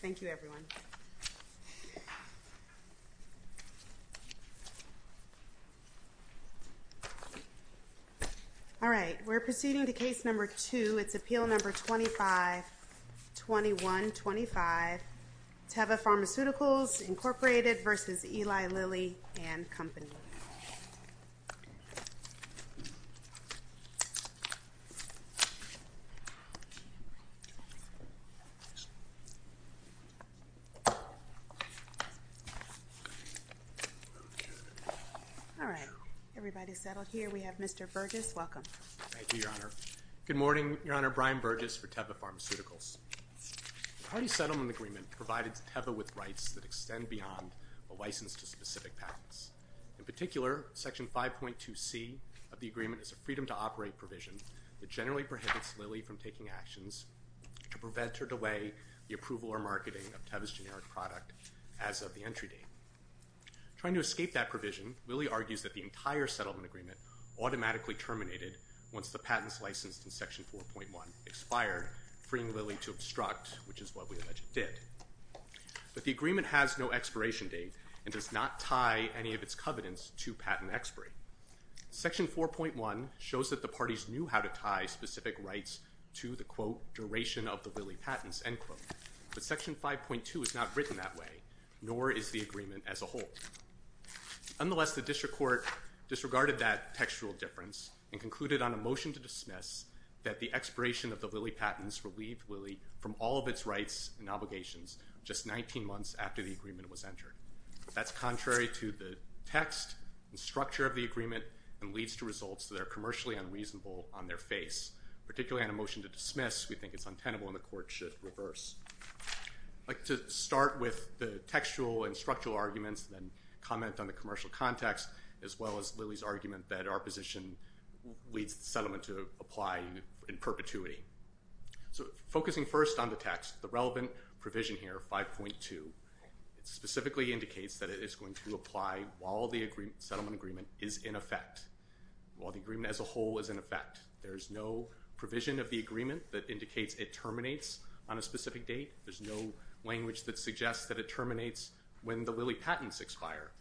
Thank you, everyone. All right, we're proceeding to Case Number 2. It's Appeal Number 25-2125, Teva Pharmaceuticals, Inc. v. Eli Lilly and Company. All right. Everybody's settled here. We have Mr. Burgess. Welcome. Thank you, Your Honor. Good morning, Your Honor. Brian Burgess for Teva Pharmaceuticals. The party settlement agreement provided Teva with rights that extend beyond a license to specific patents. In particular, Section 5.2c of the agreement is a freedom-to-operate provision that generally prohibits Lilly from taking actions to prevent or delay the approval or marketing of Teva's generic product as of the entry date. Trying to escape that provision, Lilly argues that the entire settlement agreement automatically terminated once the patents licensed in Section 4.1 expired, freeing Lilly to obstruct, which is what we allege it did. But the agreement has no expiration date and does not tie any of its covenants to patent expiry. Section 4.1 shows that the parties knew how to tie specific rights to the, quote, duration of the Lilly patents, end quote. But Section 5.2 is not written that way, nor is the agreement as a whole. Nonetheless, the district court disregarded that textual difference and concluded on a motion to dismiss that the expiration of the Lilly patents relieved Lilly from all of its rights and obligations just 19 months after the agreement was entered. That's contrary to the text and structure of the agreement and leads to results that are commercially unreasonable on their face. Particularly on a motion to dismiss, we think it's untenable and the court should reverse. I'd like to start with the textual and structural arguments and then comment on the commercial context as well as Lilly's argument that our position leads the settlement to apply in perpetuity. So focusing first on the text, the relevant provision here, 5.2, specifically indicates that it is going to apply while the settlement agreement is in effect, while the agreement as a whole is in effect. There's no provision of the agreement that indicates it terminates on a specific date. There's no language that suggests that it terminates when the Lilly patents expire.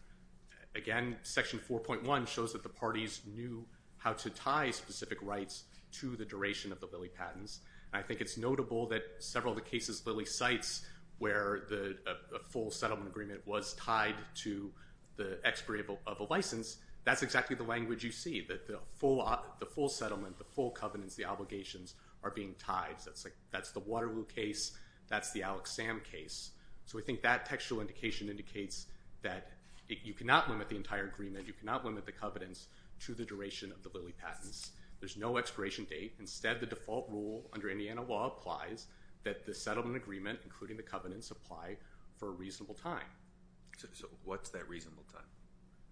Again, Section 4.1 shows that the parties knew how to tie specific rights to the duration of the Lilly patents. I think it's notable that several of the cases Lilly cites where a full settlement agreement was tied to the expiry of a license, that's exactly the language you see, that the full settlement, the full covenants, the obligations are being tied. That's the Waterloo case, that's the Alex Sam case. So I think that textual indication indicates that you cannot limit the entire agreement, you cannot limit the covenants to the duration of the Lilly patents. There's no expiration date. Instead, the default rule under Indiana law applies that the settlement agreement, including the covenants, apply for a reasonable time. So what's that reasonable time?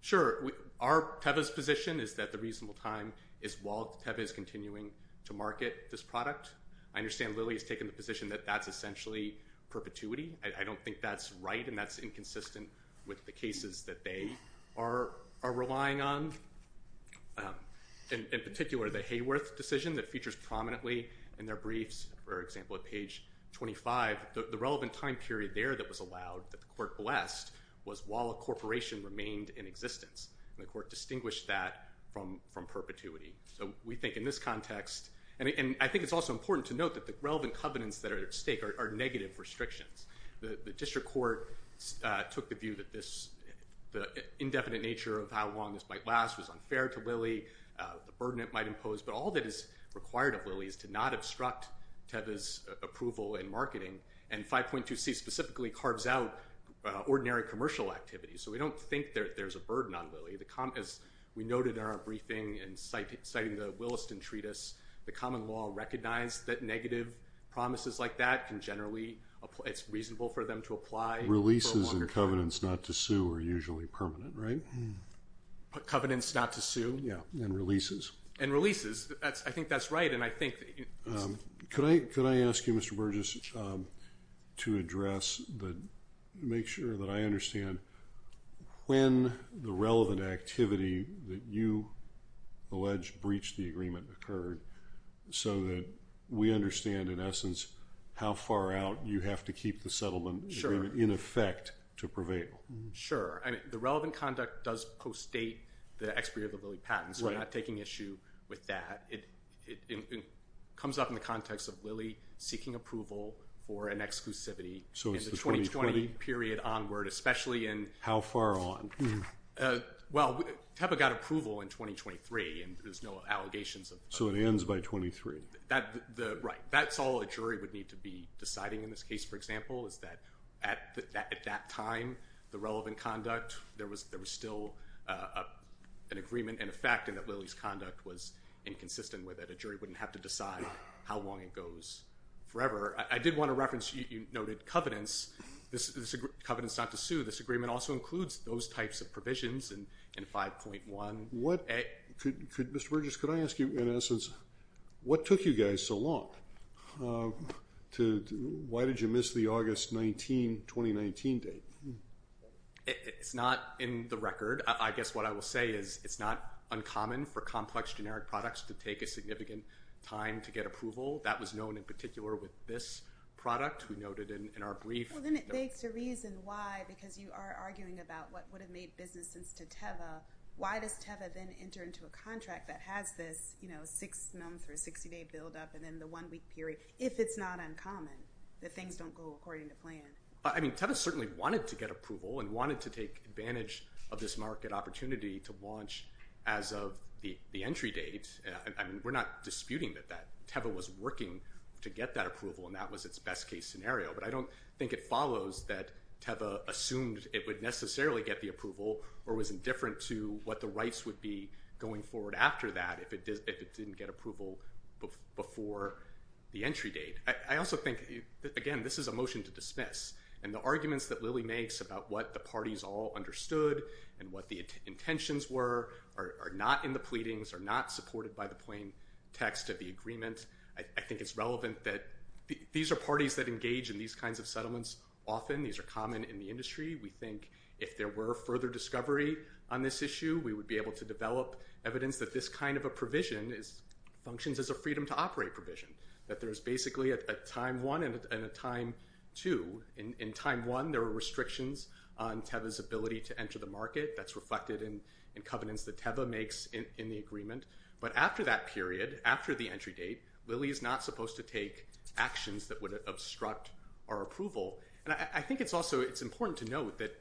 Sure, Teva's position is that the reasonable time is while Teva is continuing to market this product. I understand Lilly has taken the position that that's essentially perpetuity. I don't think that's right, and that's inconsistent with the cases that they are relying on. In particular, the Hayworth decision that features prominently in their briefs, for example, at page 25, the relevant time period there that was allowed, that the court blessed, was while a corporation remained in existence, and the court distinguished that from perpetuity. So we think in this context, and I think it's also important to note that the relevant covenants that are at stake are negative restrictions. The district court took the view that the indefinite nature of how long this might last was unfair to Lilly, the burden it might impose, but all that is required of Lilly is to not obstruct Teva's approval in marketing, and 5.2c specifically carves out ordinary commercial activities. So we don't think there's a burden on Lilly. As we noted in our briefing and citing the Williston Treatise, the common law recognized that negative promises like that can generally, it's reasonable for them to apply. Releases and covenants not to sue are usually permanent, right? Covenants not to sue. Yeah, and releases. And releases. I think that's right, and I think... Could I ask you, Mr. Burgess, to address, to make sure that I understand when the relevant activity that you allege breached the agreement occurred so that we understand, in essence, how far out you have to keep the settlement agreement in effect to prevail? Sure. The relevant conduct does post-date the expiry of the Lilly patent, so we're not taking issue with that. It comes up in the context of Lilly seeking approval for an exclusivity in the 2020 period onward, especially in... How far on? Well, TEPA got approval in 2023, and there's no allegations of... So it ends by 2023. Right. That's all a jury would need to be deciding in this case, for example, is that at that time, the relevant conduct, there was still an agreement in effect and that Lilly's conduct was inconsistent with it. A jury wouldn't have to decide how long it goes forever. I did want to reference you noted covenants. Covenants not to sue. This agreement also includes those types of provisions in 5.1. Mr. Burgess, could I ask you, in essence, what took you guys so long? Why did you miss the August 19, 2019 date? It's not in the record. I guess what I will say is it's not uncommon for complex generic products to take a significant time to get approval. That was known in particular with this product. We noted in our brief... Well, then it begs to reason why, because you are arguing about what would have made business sense to TEPA. Why does TEPA then enter into a contract that has this six-month or 60-day buildup and then the one-week period, if it's not uncommon that things don't go according to plan? I mean, TEPA certainly wanted to get approval and wanted to take advantage of this market opportunity to launch as of the entry date. I mean, we're not disputing that TEPA was working to get that approval, and that was its best-case scenario, but I don't think it follows that TEPA assumed it would necessarily get the approval or was indifferent to what the rights would be going forward after that if it didn't get approval before the entry date. I also think, again, this is a motion to dismiss, and the arguments that Lily makes about what the parties all understood and what the intentions were are not in the pleadings, are not supported by the plain text of the agreement. I think it's relevant that... These are parties that engage in these kinds of settlements often. These are common in the industry. We think if there were further discovery on this issue, we would be able to develop evidence that this kind of a provision functions as a freedom-to-operate provision, that there's basically a time 1 and a time 2. In time 1, there were restrictions on TEPA's ability to enter the market. That's reflected in covenants that TEPA makes in the agreement. But after that period, after the entry date, Lily is not supposed to take actions that would obstruct our approval. And I think it's also... It's important to note that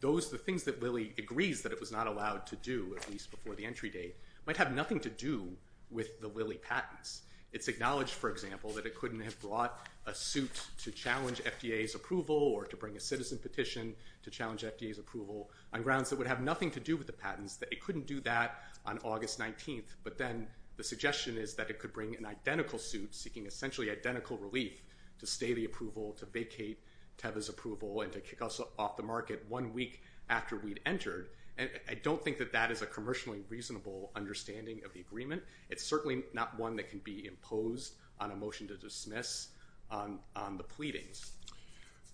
those... The things that Lily agrees that it was not allowed to do, at least before the entry date, might have nothing to do with the Lily patents. It's acknowledged, for example, that it couldn't have brought a suit to challenge FDA's approval or to bring a citizen petition to challenge FDA's approval on grounds that would have nothing to do with the patents, that it couldn't do that on August 19th. But then the suggestion is that it could bring an identical suit, seeking essentially identical relief, to stay the approval, to vacate TEPA's approval, and to kick us off the market one week after we'd entered. And I don't think that that is a commercially reasonable understanding of the agreement. It's certainly not one that can be imposed on a motion to dismiss on the pleadings.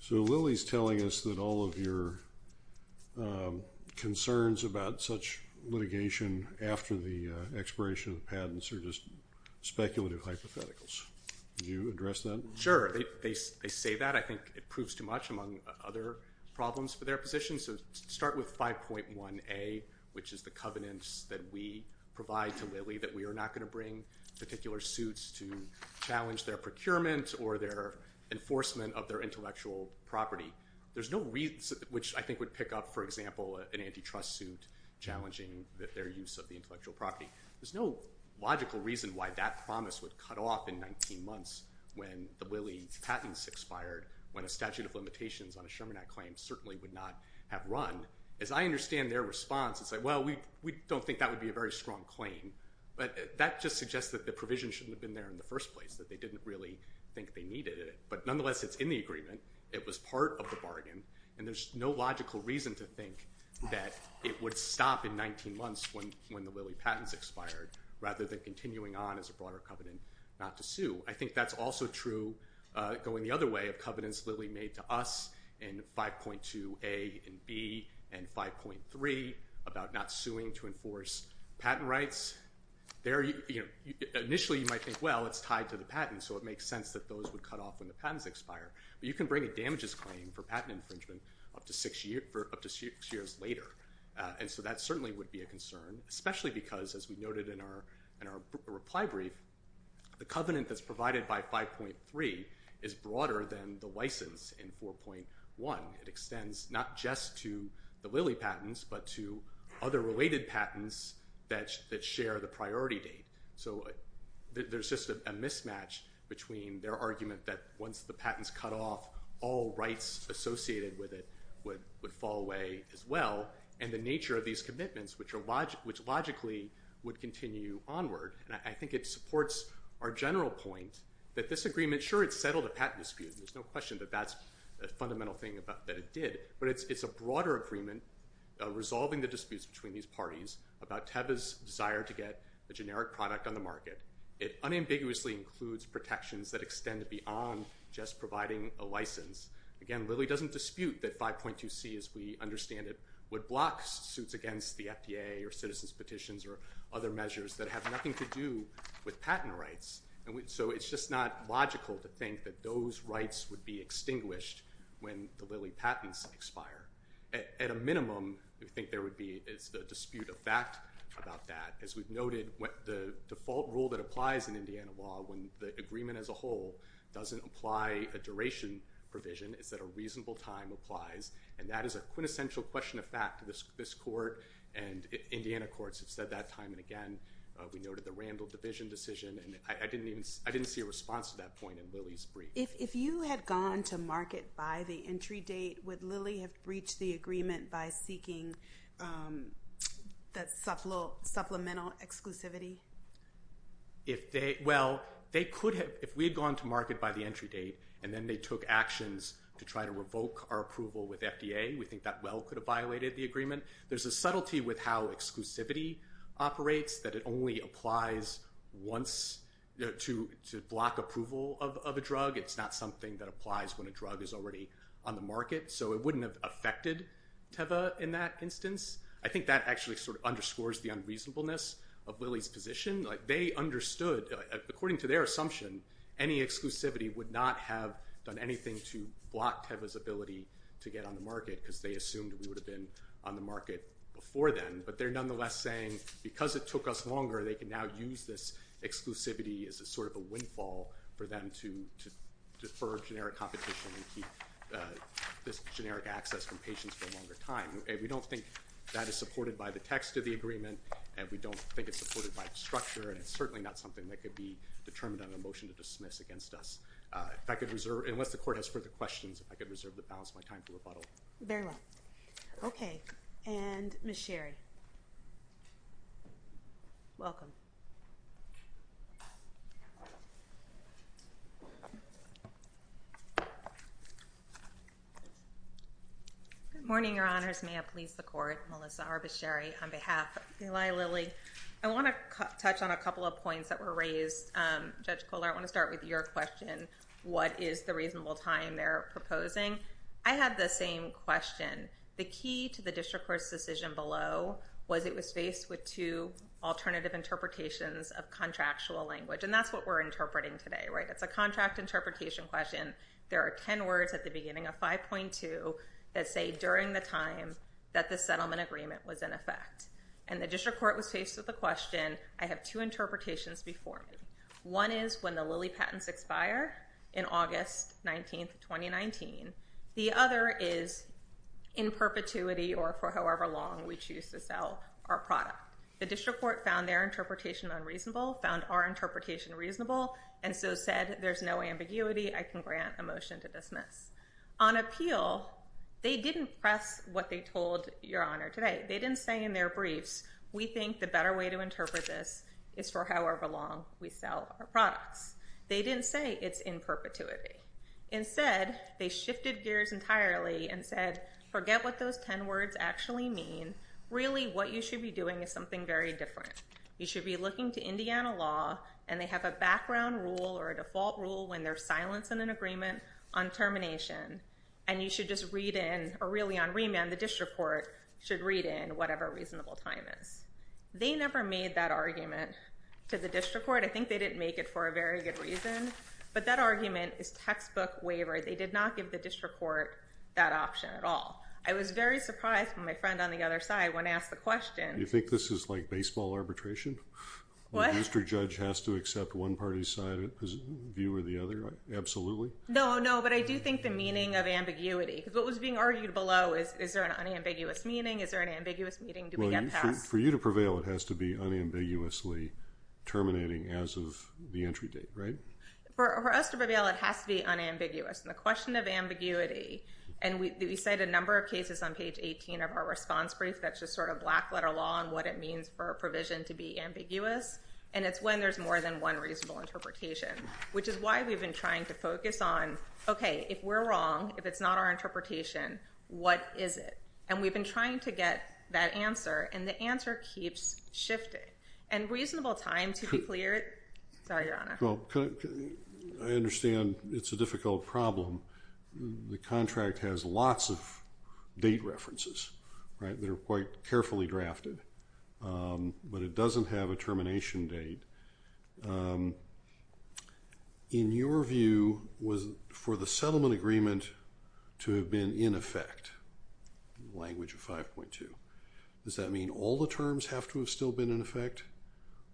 So Lily's telling us that all of your concerns about such litigation after the expiration of patents are just speculative hypotheticals. Would you address that? Sure. They say that. I think it proves too much, among other problems for their position. So to start with 5.1a, which is the covenants that we provide to Lily that we are not going to bring particular suits to challenge their procurement or their enforcement of their intellectual property. There's no reason... Which I think would pick up, for example, an antitrust suit challenging their use of the intellectual property. There's no logical reason why that promise would cut off in 19 months when the Lily patents expired, when a statute of limitations on a Sherman Act claim certainly would not have run. As I understand their response, it's like, well, we don't think that would be a very strong claim. But that just suggests that the provision shouldn't have been there in the first place, that they didn't really think they needed it. But nonetheless, it's in the agreement. It was part of the bargain, and there's no logical reason to think that it would stop in 19 months when the Lily patents expired rather than continuing on as a broader covenant not to sue. I think that's also true going the other way of covenants Lily made to us in 5.2a and b and 5.3 about not suing to enforce patent rights. Initially, you might think, well, it's tied to the patent, so it makes sense that those would cut off when the patents expire. But you can bring a damages claim for patent infringement up to six years later. And so that certainly would be a concern, especially because, as we noted in our reply brief, the covenant that's provided by 5.3 is broader than the license in 4.1. It extends not just to the Lily patents but to other related patents that share the priority date. So there's just a mismatch between their argument that once the patents cut off, all rights associated with it would fall away as well, and the nature of these commitments, which logically would continue onward. And I think it supports our general point that this agreement, sure, it settled a patent dispute. There's no question that that's a fundamental thing that it did. But it's a broader agreement resolving the disputes between these parties about Teva's desire to get a generic product on the market. It unambiguously includes protections that extend beyond just providing a license. Again, Lily doesn't dispute that 5.2c, as we understand it, would block suits against the FDA or citizens' petitions or other measures that have nothing to do with patent rights. So it's just not logical to think that those rights would be extinguished when the Lily patents expire. At a minimum, we think there would be the dispute of fact about that. As we've noted, the default rule that applies in Indiana law when the agreement as a whole doesn't apply a duration provision is that a reasonable time applies, and that is a quintessential question of fact. This court and Indiana courts have said that time and again. We noted the Randall division decision. I didn't see a response to that point in Lily's brief. If you had gone to market by the entry date, would Lily have breached the agreement by seeking supplemental exclusivity? Well, if we had gone to market by the entry date and then they took actions to try to revoke our approval with FDA, we think that well could have violated the agreement. There's a subtlety with how exclusivity operates that it only applies once to block approval of a drug. It's not something that applies when a drug is already on the market, so it wouldn't have affected Teva in that instance. I think that actually sort of underscores the unreasonableness of Lily's position. They understood, according to their assumption, any exclusivity would not have done anything to block Teva's ability to get on the market because they assumed we would have been on the market before then, but they're nonetheless saying because it took us longer, they can now use this exclusivity as a sort of a windfall for them to defer generic competition and keep this generic access from patients for a longer time. We don't think that is supported by the text of the agreement and we don't think it's supported by the structure and it's certainly not something that could be determined on a motion to dismiss against us. Unless the court has further questions, I could reserve the balance of my time for rebuttal. Very well. Okay, and Ms. Sherry. Welcome. Good morning, Your Honors. May it please the court, Melissa R. Bechery, on behalf of Eli Lilly. I want to touch on a couple of points that were raised. Judge Kohler, I want to start with your question, what is the reasonable time they're proposing? I have the same question. The key to the district court's decision below was it was faced with two alternative interpretations of contractual language, and that's what we're interpreting today, right? It's a contract interpretation question. There are 10 words at the beginning of 5.2 that say during the time that the settlement agreement was in effect. And the district court was faced with the question, I have two interpretations before me. One is when the Lilly patents expire in August 19, 2019. The other is in perpetuity or for however long we choose to sell our product. The district court found their interpretation unreasonable, found our interpretation reasonable, and so said there's no ambiguity. I can grant a motion to dismiss. On appeal, they didn't press what they told Your Honor today. They didn't say in their briefs, we think the better way to interpret this is for however long we sell our products. They didn't say it's in perpetuity. Instead, they shifted gears entirely and said, forget what those 10 words actually mean. Really, what you should be doing is something very different. You should be looking to Indiana law, and they have a background rule or a default rule when they're silencing an agreement on termination, and you should just read in, or really on remand, the district court should read in whatever reasonable time is. They never made that argument to the district court. I think they didn't make it for a very good reason, but that argument is textbook waiver. They did not give the district court that option at all. I was very surprised when my friend on the other side when asked the question. Do you think this is like baseball arbitration? What? The district judge has to accept one party's view or the other? Absolutely. No, no, but I do think the meaning of ambiguity, because what was being argued below is, is there an unambiguous meaning? Is there an ambiguous meaning? Do we get past? For you to prevail, it has to be unambiguously terminating as of the entry date, right? For us to prevail, it has to be unambiguous, and the question of ambiguity, and we cite a number of cases on page 18 of our response brief that's just sort of black letter law and what it means for a provision to be ambiguous, and it's when there's more than one reasonable interpretation, which is why we've been trying to focus on, okay, if we're wrong, if it's not our interpretation, what is it? And we've been trying to get that answer, and the answer keeps shifting. And reasonable time to clear it. Sorry, Your Honor. Well, I understand it's a difficult problem. The contract has lots of date references, right, that are quite carefully drafted, but it doesn't have a termination date. In your view, for the settlement agreement to have been in effect, language of 5.2, does that mean all the terms have to have still been in effect,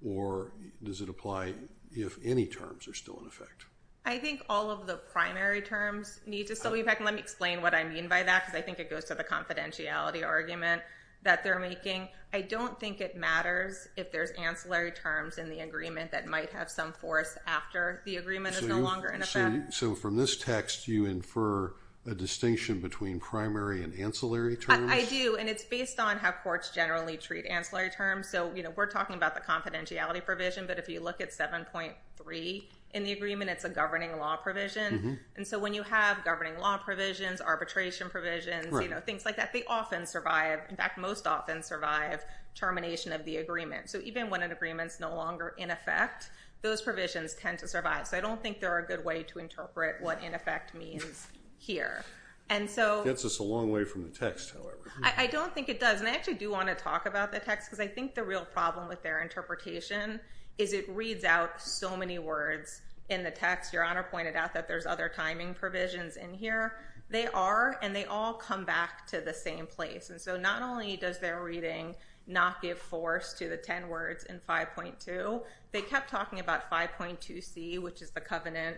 or does it apply if any terms are still in effect? I think all of the primary terms need to still be in effect, and let me explain what I mean by that, because I think it goes to the confidentiality argument that they're making. I don't think it matters if there's ancillary terms in the agreement that might have some force after the agreement is no longer in effect. So from this text, you infer a distinction between primary and ancillary terms? I do, and it's based on how courts generally treat ancillary terms. So, you know, we're talking about the confidentiality provision, but if you look at 7.3 in the agreement, it's a governing law provision. And so when you have governing law provisions, arbitration provisions, you know, things like that, they often survive. In fact, most often survive termination of the agreement. So even when an agreement's no longer in effect, those provisions tend to survive. So I don't think they're a good way to interpret what in effect means here. It gets us a long way from the text, however. I don't think it does, and I actually do want to talk about the text, because I think the real problem with their interpretation is it reads out so many words in the text. Your Honor pointed out that there's other timing provisions in here. They are, and they all come back to the same place. And so not only does their reading not give force to the 10 words in 5.2, they kept talking about 5.2c, which is the covenant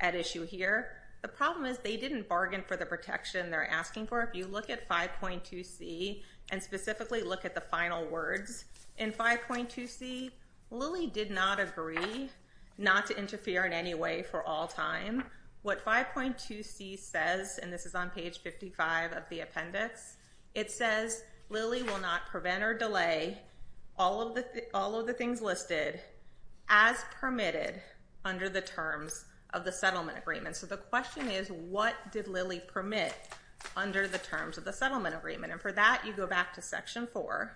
at issue here. The problem is they didn't bargain for the protection they're asking for. If you look at 5.2c and specifically look at the final words in 5.2c, Lilly did not agree not to interfere in any way for all time. What 5.2c says, and this is on page 55 of the appendix, it says Lilly will not prevent or delay all of the things listed as permitted under the terms of the settlement agreement. So the question is what did Lilly permit under the terms of the settlement agreement? And for that, you go back to Section 4,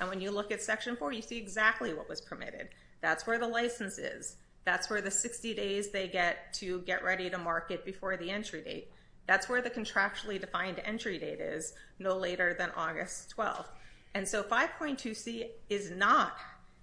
and when you look at Section 4, you see exactly what was permitted. That's where the license is. That's where the 60 days they get to get ready to market before the entry date. That's where the contractually defined entry date is no later than August 12th. And so 5.2c is not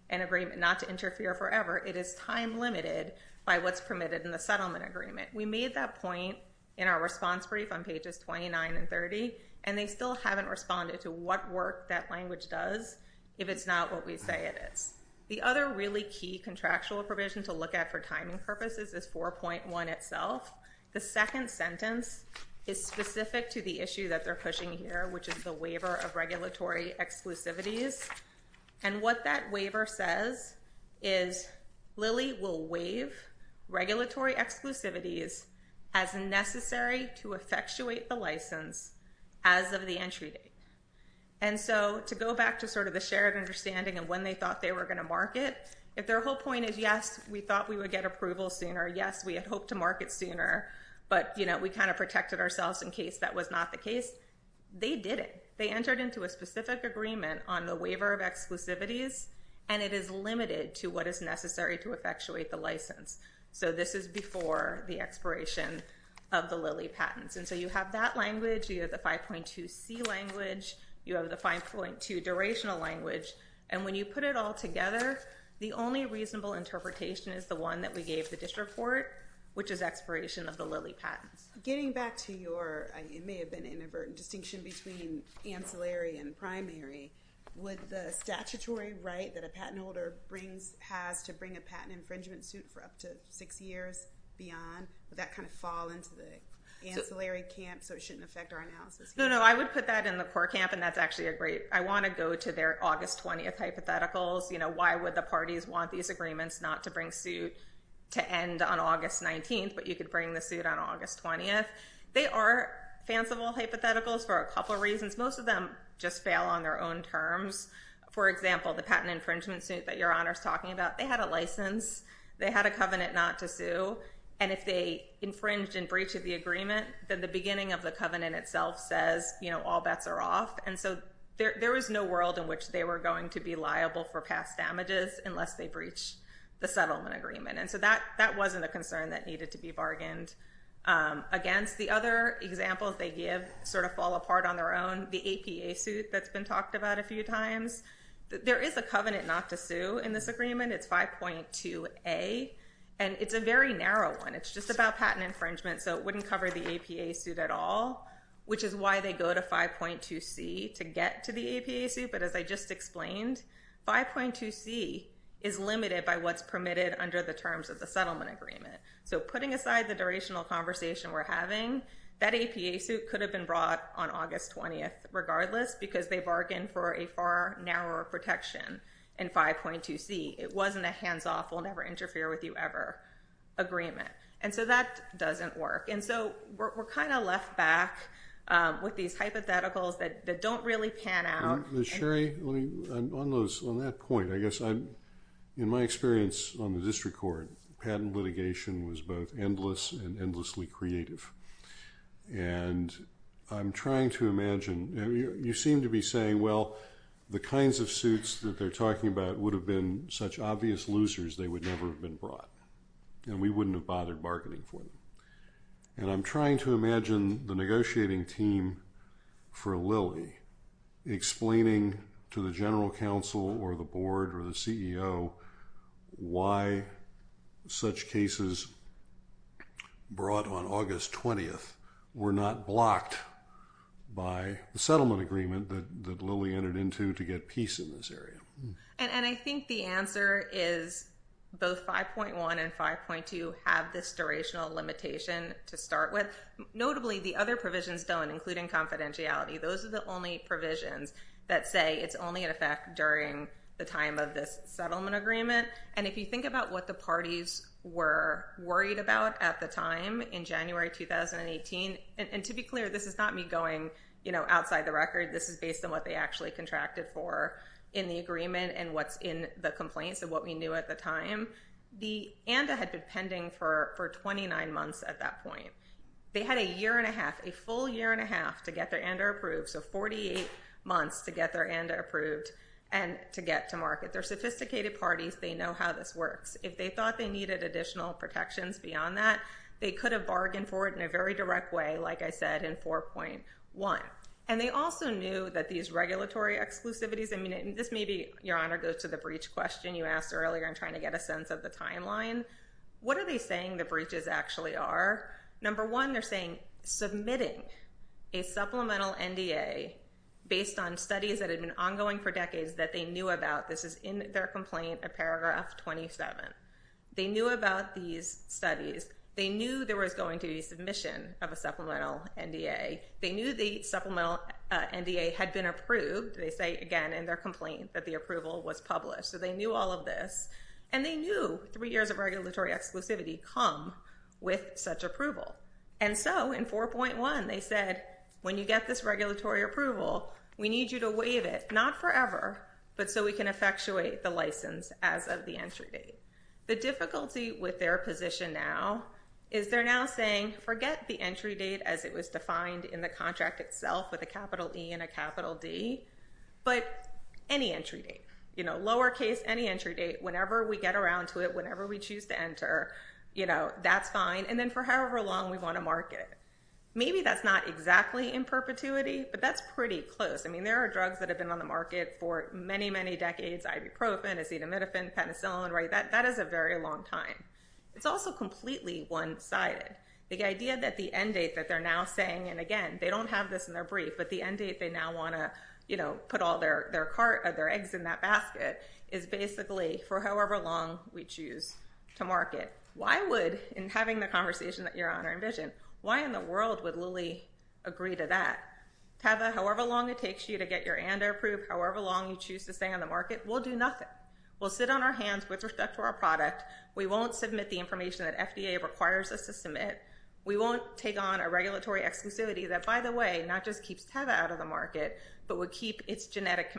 an agreement not to interfere forever. It is time limited by what's permitted in the settlement agreement. We made that point in our response brief on pages 29 and 30, and they still haven't responded to what work that language does if it's not what we say it is. The other really key contractual provision to look at for timing purposes is 4.1 itself. The second sentence is specific to the issue that they're pushing here, which is the waiver of regulatory exclusivities. And what that waiver says is Lilly will waive regulatory exclusivities as necessary to effectuate the license as of the entry date. And so to go back to sort of the shared understanding of when they thought they were going to market, if their whole point is, yes, we thought we would get approval sooner, yes, we had hoped to market sooner, but we kind of protected ourselves in case that was not the case, they didn't. They entered into a specific agreement on the waiver of exclusivities, and it is limited to what is necessary to effectuate the license. So this is before the expiration of the Lilly patents. And so you have that language. You have the 5.2c language. You have the 5.2 durational language. And when you put it all together, the only reasonable interpretation is the one that we gave the district court, which is expiration of the Lilly patents. Getting back to your, it may have been inadvertent, distinction between ancillary and primary, would the statutory right that a patent holder has to bring a patent infringement suit for up to six years beyond, would that kind of fall into the ancillary camp so it shouldn't affect our analysis here? No, no, I would put that in the core camp, and that's actually a great. I want to go to their August 20th hypotheticals, you know, why would the parties want these agreements not to bring suit to end on August 19th, but you could bring the suit on August 20th. They are fanciful hypotheticals for a couple reasons. Most of them just fail on their own terms. For example, the patent infringement suit that Your Honor is talking about, they had a license, they had a covenant not to sue, and if they infringed and breached the agreement, then the beginning of the covenant itself says, you know, all bets are off. And so there was no world in which they were going to be liable for past damages unless they breached the settlement agreement. And so that wasn't a concern that needed to be bargained against. The other examples they give sort of fall apart on their own. The APA suit that's been talked about a few times, there is a covenant not to sue in this agreement. It's 5.2a, and it's a very narrow one. It's just about patent infringement, so it wouldn't cover the APA suit at all, which is why they go to 5.2c to get to the APA suit. But as I just explained, 5.2c is limited by what's permitted under the terms of the settlement agreement. So putting aside the durational conversation we're having, that APA suit could have been brought on August 20th regardless because they bargained for a far narrower protection in 5.2c. It wasn't a hands-off, we'll never interfere with you ever agreement. And so that doesn't work. And so we're kind of left back with these hypotheticals that don't really pan out. Ms. Sherry, on that point, I guess in my experience on the district court, patent litigation was both endless and endlessly creative. And I'm trying to imagine, you seem to be saying, well, the kinds of suits that they're talking about would have been such obvious losers they would never have been brought, and we wouldn't have bothered marketing for them. And I'm trying to imagine the negotiating team for Lilly explaining to the general counsel or the board or the CEO why such cases brought on August 20th were not blocked by the settlement agreement that Lilly entered into to get peace in this area. And I think the answer is both 5.1 and 5.2 have this durational limitation to start with. Notably, the other provisions don't, including confidentiality. Those are the only provisions that say it's only in effect during the time of this settlement agreement. And if you think about what the parties were worried about at the time in January 2018, and to be clear, this is not me going outside the record. This is based on what they actually contracted for in the agreement and what's in the complaints and what we knew at the time. The ANDA had been pending for 29 months at that point. They had a year and a half, a full year and a half to get their ANDA approved, so 48 months to get their ANDA approved and to get to market. They're sophisticated parties. They know how this works. If they thought they needed additional protections beyond that, they could have bargained for it in a very direct way, like I said, in 4.1. And they also knew that these regulatory exclusivities, I mean, this maybe, Your Honor, goes to the breach question you asked earlier in trying to get a sense of the timeline. What are they saying the breaches actually are? Number one, they're saying submitting a supplemental NDA based on studies that had been ongoing for decades that they knew about. This is in their complaint at paragraph 27. They knew about these studies. They knew there was going to be submission of a supplemental NDA. They knew the supplemental NDA had been approved. They say again in their complaint that the approval was published. So they knew all of this. And they knew three years of regulatory exclusivity come with such approval. And so in 4.1, they said, when you get this regulatory approval, we need you to waive it, not forever, but so we can effectuate the license as of the entry date. The difficulty with their position now is they're now saying, forget the entry date as it was defined in the contract itself with a capital E and a capital D, but any entry date. You know, lowercase, any entry date, whenever we get around to it, whenever we choose to enter, you know, that's fine. And then for however long we want to market it. Maybe that's not exactly in perpetuity, but that's pretty close. I mean, there are drugs that have been on the market for many, many decades, ibuprofen, acetaminophen, penicillin, right? That is a very long time. It's also completely one-sided. The idea that the end date that they're now saying, and again, they don't have this in their brief, but the end date they now want to, you know, put all their eggs in that basket is basically for however long we choose to market. Why would, in having the conversation that your Honor envisioned, why in the world would Lilly agree to that? Tava, however long it takes you to get your ANDA approved, however long you choose to stay on the market, we'll do nothing. We'll sit on our hands with respect to our product. We won't submit the information that FDA requires us to submit. We won't take on a regulatory exclusivity that, by the way, not just keeps Tava out of the market, but would keep its generic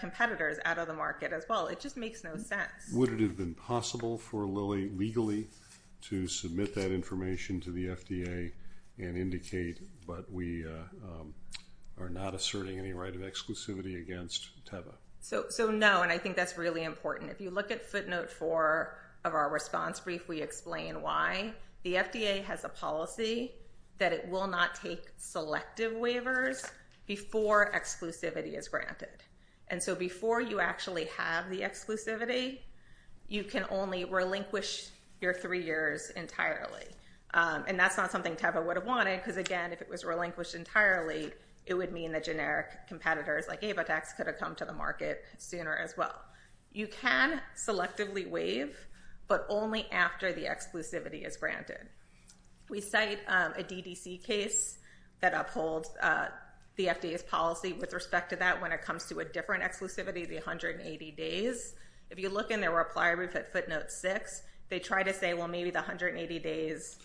competitors out of the market as well. It just makes no sense. Would it have been possible for Lilly legally to submit that information to the FDA and indicate, but we are not asserting any right of exclusivity against Tava? So no, and I think that's really important. If you look at footnote four of our response brief, we explain why. The FDA has a policy that it will not take selective waivers before exclusivity is granted. And so before you actually have the exclusivity, you can only relinquish your three years entirely. And that's not something Tava would have wanted because, again, if it was relinquished entirely, it would mean that generic competitors like AvaTax could have come to the market sooner as well. You can selectively waive, but only after the exclusivity is granted. We cite a DDC case that upholds the FDA's policy with respect to that when it comes to a different exclusivity, the 180 days. If you look in their reply brief at footnote six, they try to say, well, maybe the 180 days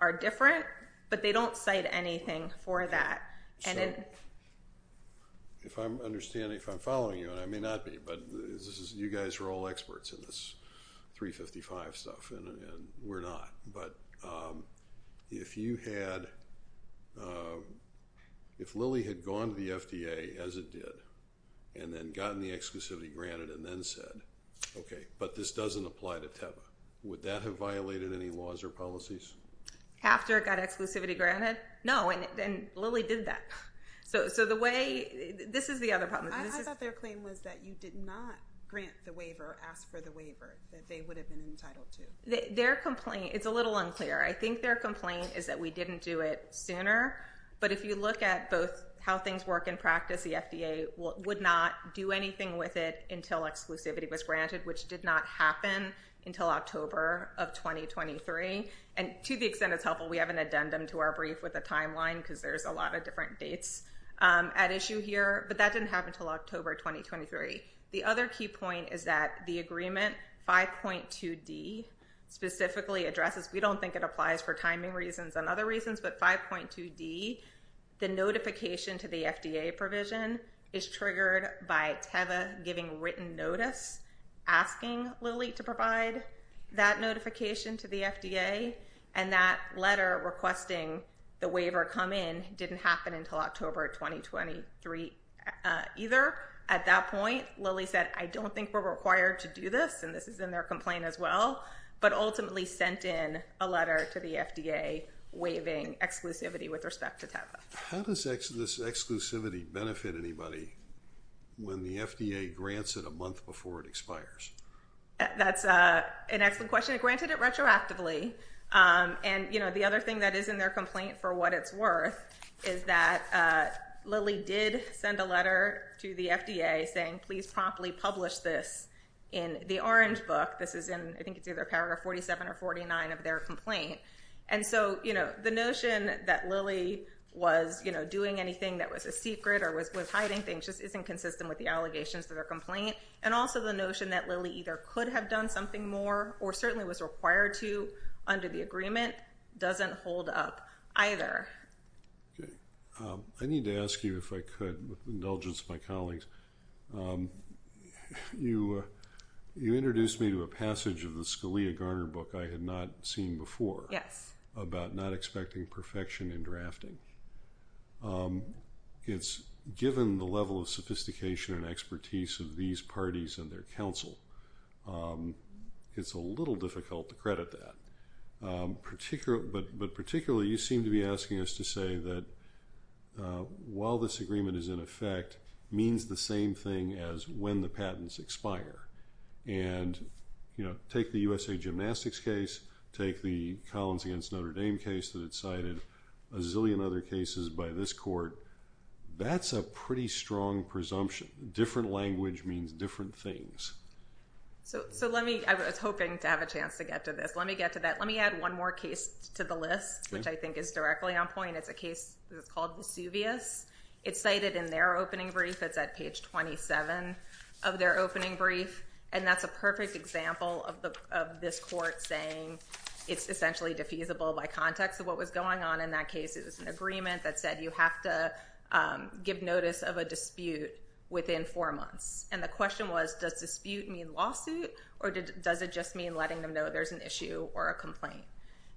are different, but they don't cite anything for that. So if I'm following you, and I may not be, but you guys are all experts in this 355 stuff, and we're not. But if Lily had gone to the FDA, as it did, and then gotten the exclusivity granted and then said, okay, but this doesn't apply to Tava, would that have violated any laws or policies? After it got exclusivity granted? No, and Lily did that. So this is the other problem. I thought their claim was that you did not grant the waiver, ask for the waiver that they would have been entitled to. It's a little unclear. I think their complaint is that we didn't do it sooner. But if you look at both how things work in practice, the FDA would not do anything with it until exclusivity was granted, which did not happen until October of 2023. And to the extent it's helpful, we have an addendum to our brief with a timeline because there's a lot of different dates at issue here. But that didn't happen until October 2023. The other key point is that the agreement, 5.2D, specifically addresses, we don't think it applies for timing reasons and other reasons, but 5.2D, the notification to the FDA provision is triggered by Tava giving written notice, asking Lily to provide that notification to the FDA, and that letter requesting the waiver come in didn't happen until October 2023 either. At that point, Lily said, I don't think we're required to do this, and this is in their complaint as well, but ultimately sent in a letter to the FDA waiving exclusivity with respect to Tava. How does this exclusivity benefit anybody when the FDA grants it a month before it expires? That's an excellent question. It granted it retroactively, and, you know, the other thing that is in their complaint for what it's worth is that Lily did send a letter to the FDA saying please promptly publish this in the Orange Book. This is in, I think it's either Paragraph 47 or 49 of their complaint. And so, you know, the notion that Lily was, you know, doing anything that was a secret or was hiding things just isn't consistent with the allegations of their complaint, and also the notion that Lily either could have done something more or certainly was required to under the agreement doesn't hold up either. Okay. I need to ask you if I could, with indulgence of my colleagues, you introduced me to a passage of the Scalia-Garner book I had not seen before. Yes. About not expecting perfection in drafting. It's given the level of sophistication and expertise of these parties and their counsel. It's a little difficult to credit that. But particularly, you seem to be asking us to say that while this agreement is in effect, it means the same thing as when the patents expire. And, you know, take the USA Gymnastics case, take the Collins against Notre Dame case that it's cited, a zillion other cases by this court, that's a pretty strong presumption. Different language means different things. So let me, I was hoping to have a chance to get to this. Let me get to that. Let me add one more case to the list, which I think is directly on point. It's a case that's called Vesuvius. It's cited in their opening brief. It's at page 27 of their opening brief. And that's a perfect example of this court saying it's essentially defeasible by context of what was going on in that case. It was an agreement that said you have to give notice of a dispute within four months. And the question was, does dispute mean lawsuit? Or does it just mean letting them know there's an issue or a complaint?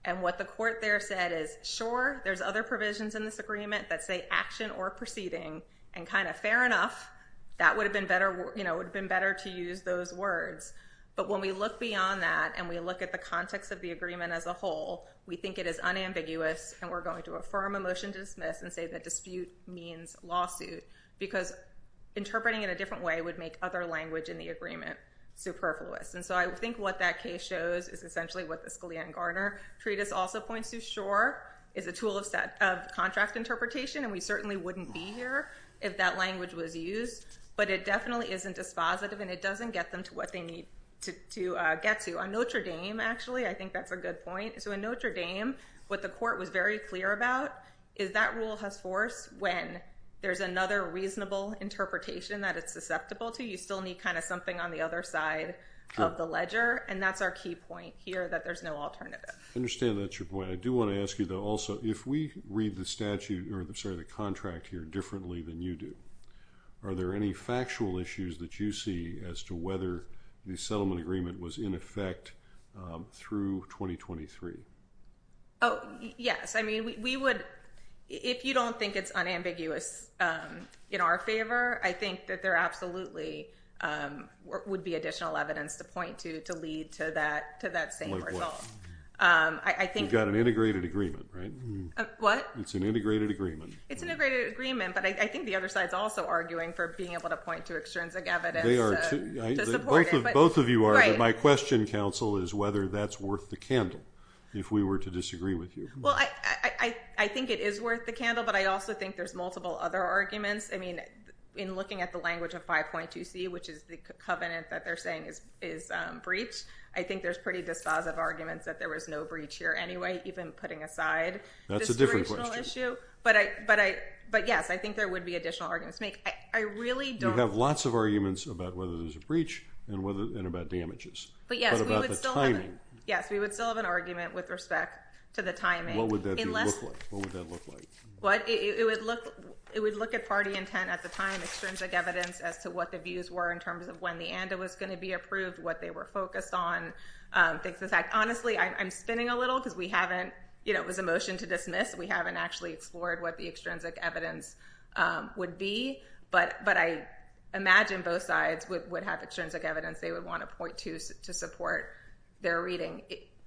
And what the court there said is, sure, there's other provisions in this agreement that say action or proceeding. And kind of fair enough, that would have been better to use those words. But when we look beyond that and we look at the context of the agreement as a whole, we think it is unambiguous, and we're going to affirm a motion to dismiss and say that dispute means lawsuit. Because interpreting it a different way would make other language in the agreement superfluous. And so I think what that case shows is essentially what the Scalia and Garner treatise also points to. Sure, it's a tool of contract interpretation, and we certainly wouldn't be here if that language was used. But it definitely isn't dispositive, and it doesn't get them to what they need to get to. On Notre Dame, actually, I think that's a good point. So in Notre Dame, what the court was very clear about is that rule has force when there's another reasonable interpretation that it's susceptible to. You still need kind of something on the other side of the ledger. And that's our key point here, that there's no alternative. I understand that's your point. I do want to ask you, though, also, if we read the statute or, sorry, the contract here differently than you do, are there any factual issues that you see as to whether the settlement agreement was in effect through 2023? Oh, yes. I mean, we would, if you don't think it's unambiguous in our favor, I think that there absolutely would be additional evidence to point to to lead to that same result. Like what? We've got an integrated agreement, right? What? It's an integrated agreement. It's an integrated agreement, but I think the other side's also arguing for being able to point to extrinsic evidence to support it. Both of you are, but my question, counsel, is whether that's worth the candle, if we were to disagree with you. Well, I think it is worth the candle, but I also think there's multiple other arguments. I mean, in looking at the language of 5.2c, which is the covenant that they're saying is breach, I think there's pretty dispositive arguments that there was no breach here anyway, even putting aside the situational issue. But, yes, I think there would be additional arguments to make. I really don't. You have lots of arguments about whether there's a breach and about damages, but about the timing. Yes, we would still have an argument with respect to the timing. What would that look like? What would that look like? It would look at party intent at the time, extrinsic evidence as to what the views were in terms of when the ANDA was going to be approved, what they were focused on, things of the type. Honestly, I'm spinning a little because we haven't, you know, it was a motion to dismiss. We haven't actually explored what the extrinsic evidence would be, but I imagine both sides would have extrinsic evidence. They would want a .2 to support their reading.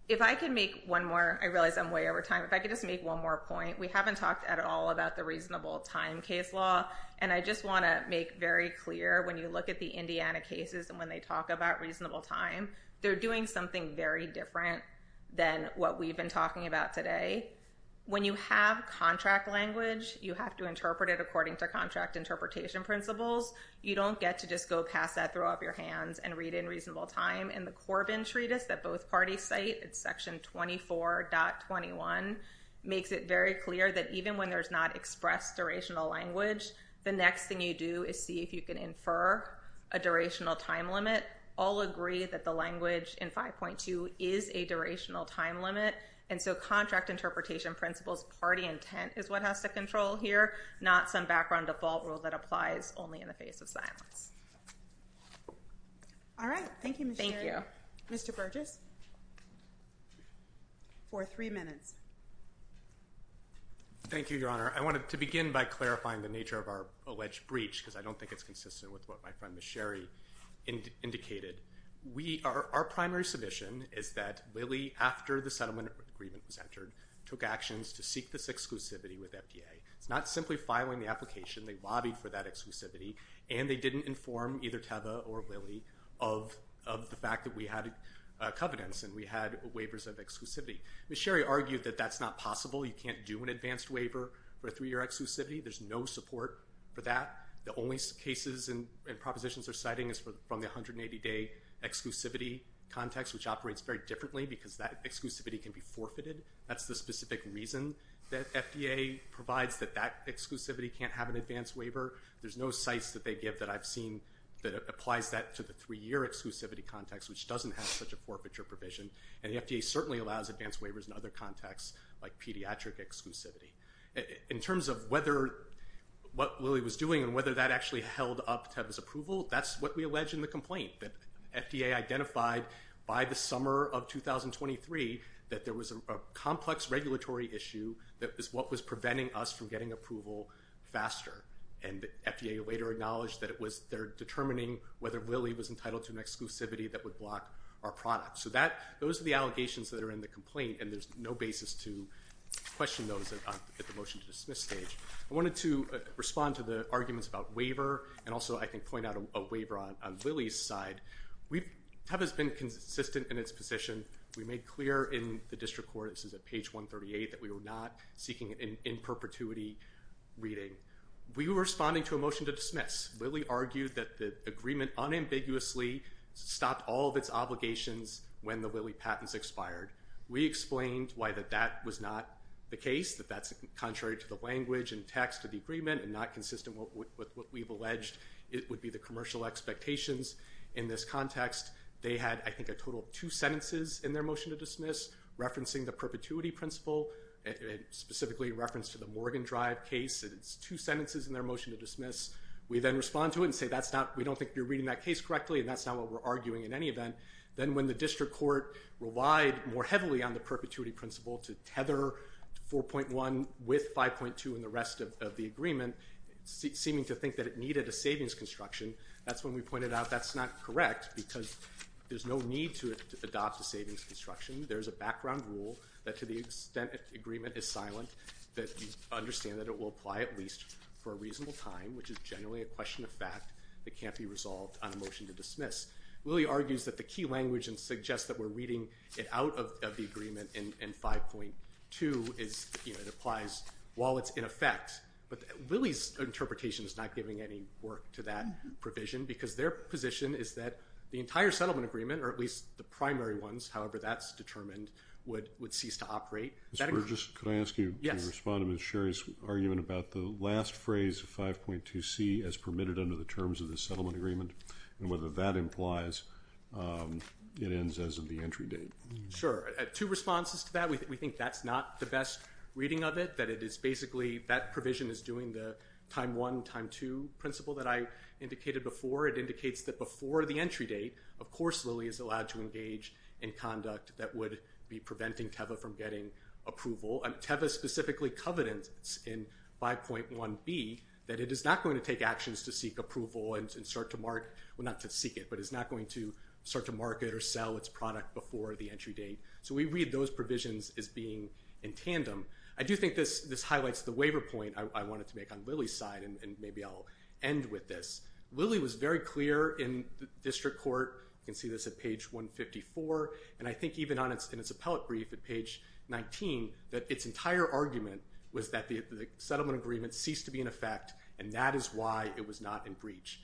If I could make one more, I realize I'm way over time. If I could just make one more point, we haven't talked at all about the reasonable time case law, and I just want to make very clear when you look at the Indiana cases and when they talk about reasonable time, they're doing something very different than what we've been talking about today. When you have contract language, you have to interpret it according to contract interpretation principles. You don't get to just go past that, throw up your hands, and read in reasonable time. And the Corbin Treatise that both parties cite, it's section 24.21, makes it very clear that even when there's not expressed durational language, the next thing you do is see if you can infer a durational time limit. All agree that the language in 5.2 is a durational time limit, and so contract interpretation principles, party intent is what has to control here, not some background default rule that applies only in the face of silence. All right. Thank you, Ms. Sherry. Thank you. Mr. Burgess for three minutes. Thank you, Your Honor. I wanted to begin by clarifying the nature of our alleged breach because I don't think it's consistent with what my friend Ms. Sherry indicated. Our primary submission is that Lilly, after the settlement agreement was entered, took actions to seek this exclusivity with FDA. It's not simply filing the application. They lobbied for that exclusivity, and they didn't inform either Teva or Lilly of the fact that we had covenants and we had waivers of exclusivity. Ms. Sherry argued that that's not possible. You can't do an advanced waiver for a three-year exclusivity. There's no support for that. The only cases and propositions they're citing is from the 180-day exclusivity context, which operates very differently because that exclusivity can be forfeited. That's the specific reason that FDA provides that that exclusivity can't have an advanced waiver. There's no cites that they give that I've seen that applies that to the three-year exclusivity context, which doesn't have such a forfeiture provision, and the FDA certainly allows advanced waivers in other contexts like pediatric exclusivity. In terms of what Lilly was doing and whether that actually held up Teva's approval, that's what we allege in the complaint, that FDA identified by the summer of 2023 that there was a complex regulatory issue that was what was preventing us from getting approval faster, and FDA later acknowledged that they're determining whether Lilly was entitled to an exclusivity that would block our product. So those are the allegations that are in the complaint, and there's no basis to question those at the motion-to-dismiss stage. I wanted to respond to the arguments about waiver, and also I can point out a waiver on Lilly's side. Teva's been consistent in its position. We made clear in the district court, this is at page 138, that we were not seeking an in-perpetuity reading. We were responding to a motion to dismiss. Lilly argued that the agreement unambiguously stopped all of its obligations when the Lilly patents expired. We explained why that that was not the case, that that's contrary to the language and text of the agreement and not consistent with what we've alleged would be the commercial expectations in this context. They had, I think, a total of two sentences in their motion-to-dismiss referencing the perpetuity principle, specifically in reference to the Morgan Drive case. It's two sentences in their motion-to-dismiss. We then respond to it and say, we don't think you're reading that case correctly, and that's not what we're arguing in any event. Then when the district court relied more heavily on the perpetuity principle to tether 4.1 with 5.2 and the rest of the agreement, seeming to think that it needed a savings construction, that's when we pointed out that's not correct because there's no need to adopt a savings construction. There's a background rule that to the extent that the agreement is silent, that we understand that it will apply at least for a reasonable time, which is generally a question of fact that can't be resolved on a motion to dismiss. Lilly argues that the key language and suggests that we're reading it out of the agreement in 5.2 is it applies while it's in effect. But Lilly's interpretation is not giving any work to that provision because their position is that the entire settlement agreement, or at least the primary ones, however that's determined, would cease to operate. Mr. Burgess, could I ask you to respond to Ms. Sherry's argument about the last phrase, 5.2c, as permitted under the terms of the settlement agreement and whether that implies it ends as of the entry date? Sure. Two responses to that. We think that's not the best reading of it, that it is basically, that provision is doing the time 1, time 2 principle that I indicated before. It indicates that before the entry date, of course Lilly is allowed to engage in conduct that would be preventing TEVA from getting approval. TEVA specifically covenants in 5.1b that it is not going to take actions to seek approval and start to mark, well not to seek it, but it's not going to start to market or sell its product before the entry date. So we read those provisions as being in tandem. I do think this highlights the waiver point I wanted to make on Lilly's side and maybe I'll end with this. Lilly was very clear in district court, you can see this at page 154, and I think even in its appellate brief at page 19, that its entire argument was that the settlement agreement ceased to be in effect and that is why it was not in breach.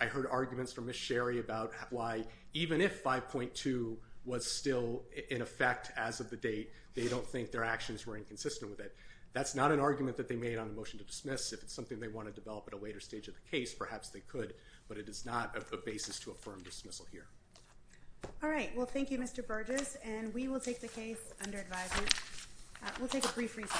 I heard arguments from Ms. Sherry about why even if 5.2 was still in effect as of the date, they don't think their actions were inconsistent with it. That's not an argument that they made on the motion to dismiss. If it's something they want to develop at a later stage of the case, perhaps they could, but it is not a basis to affirm dismissal here. All right, well thank you, Mr. Burgess, and we will take the case under advisory. We'll take a brief recess.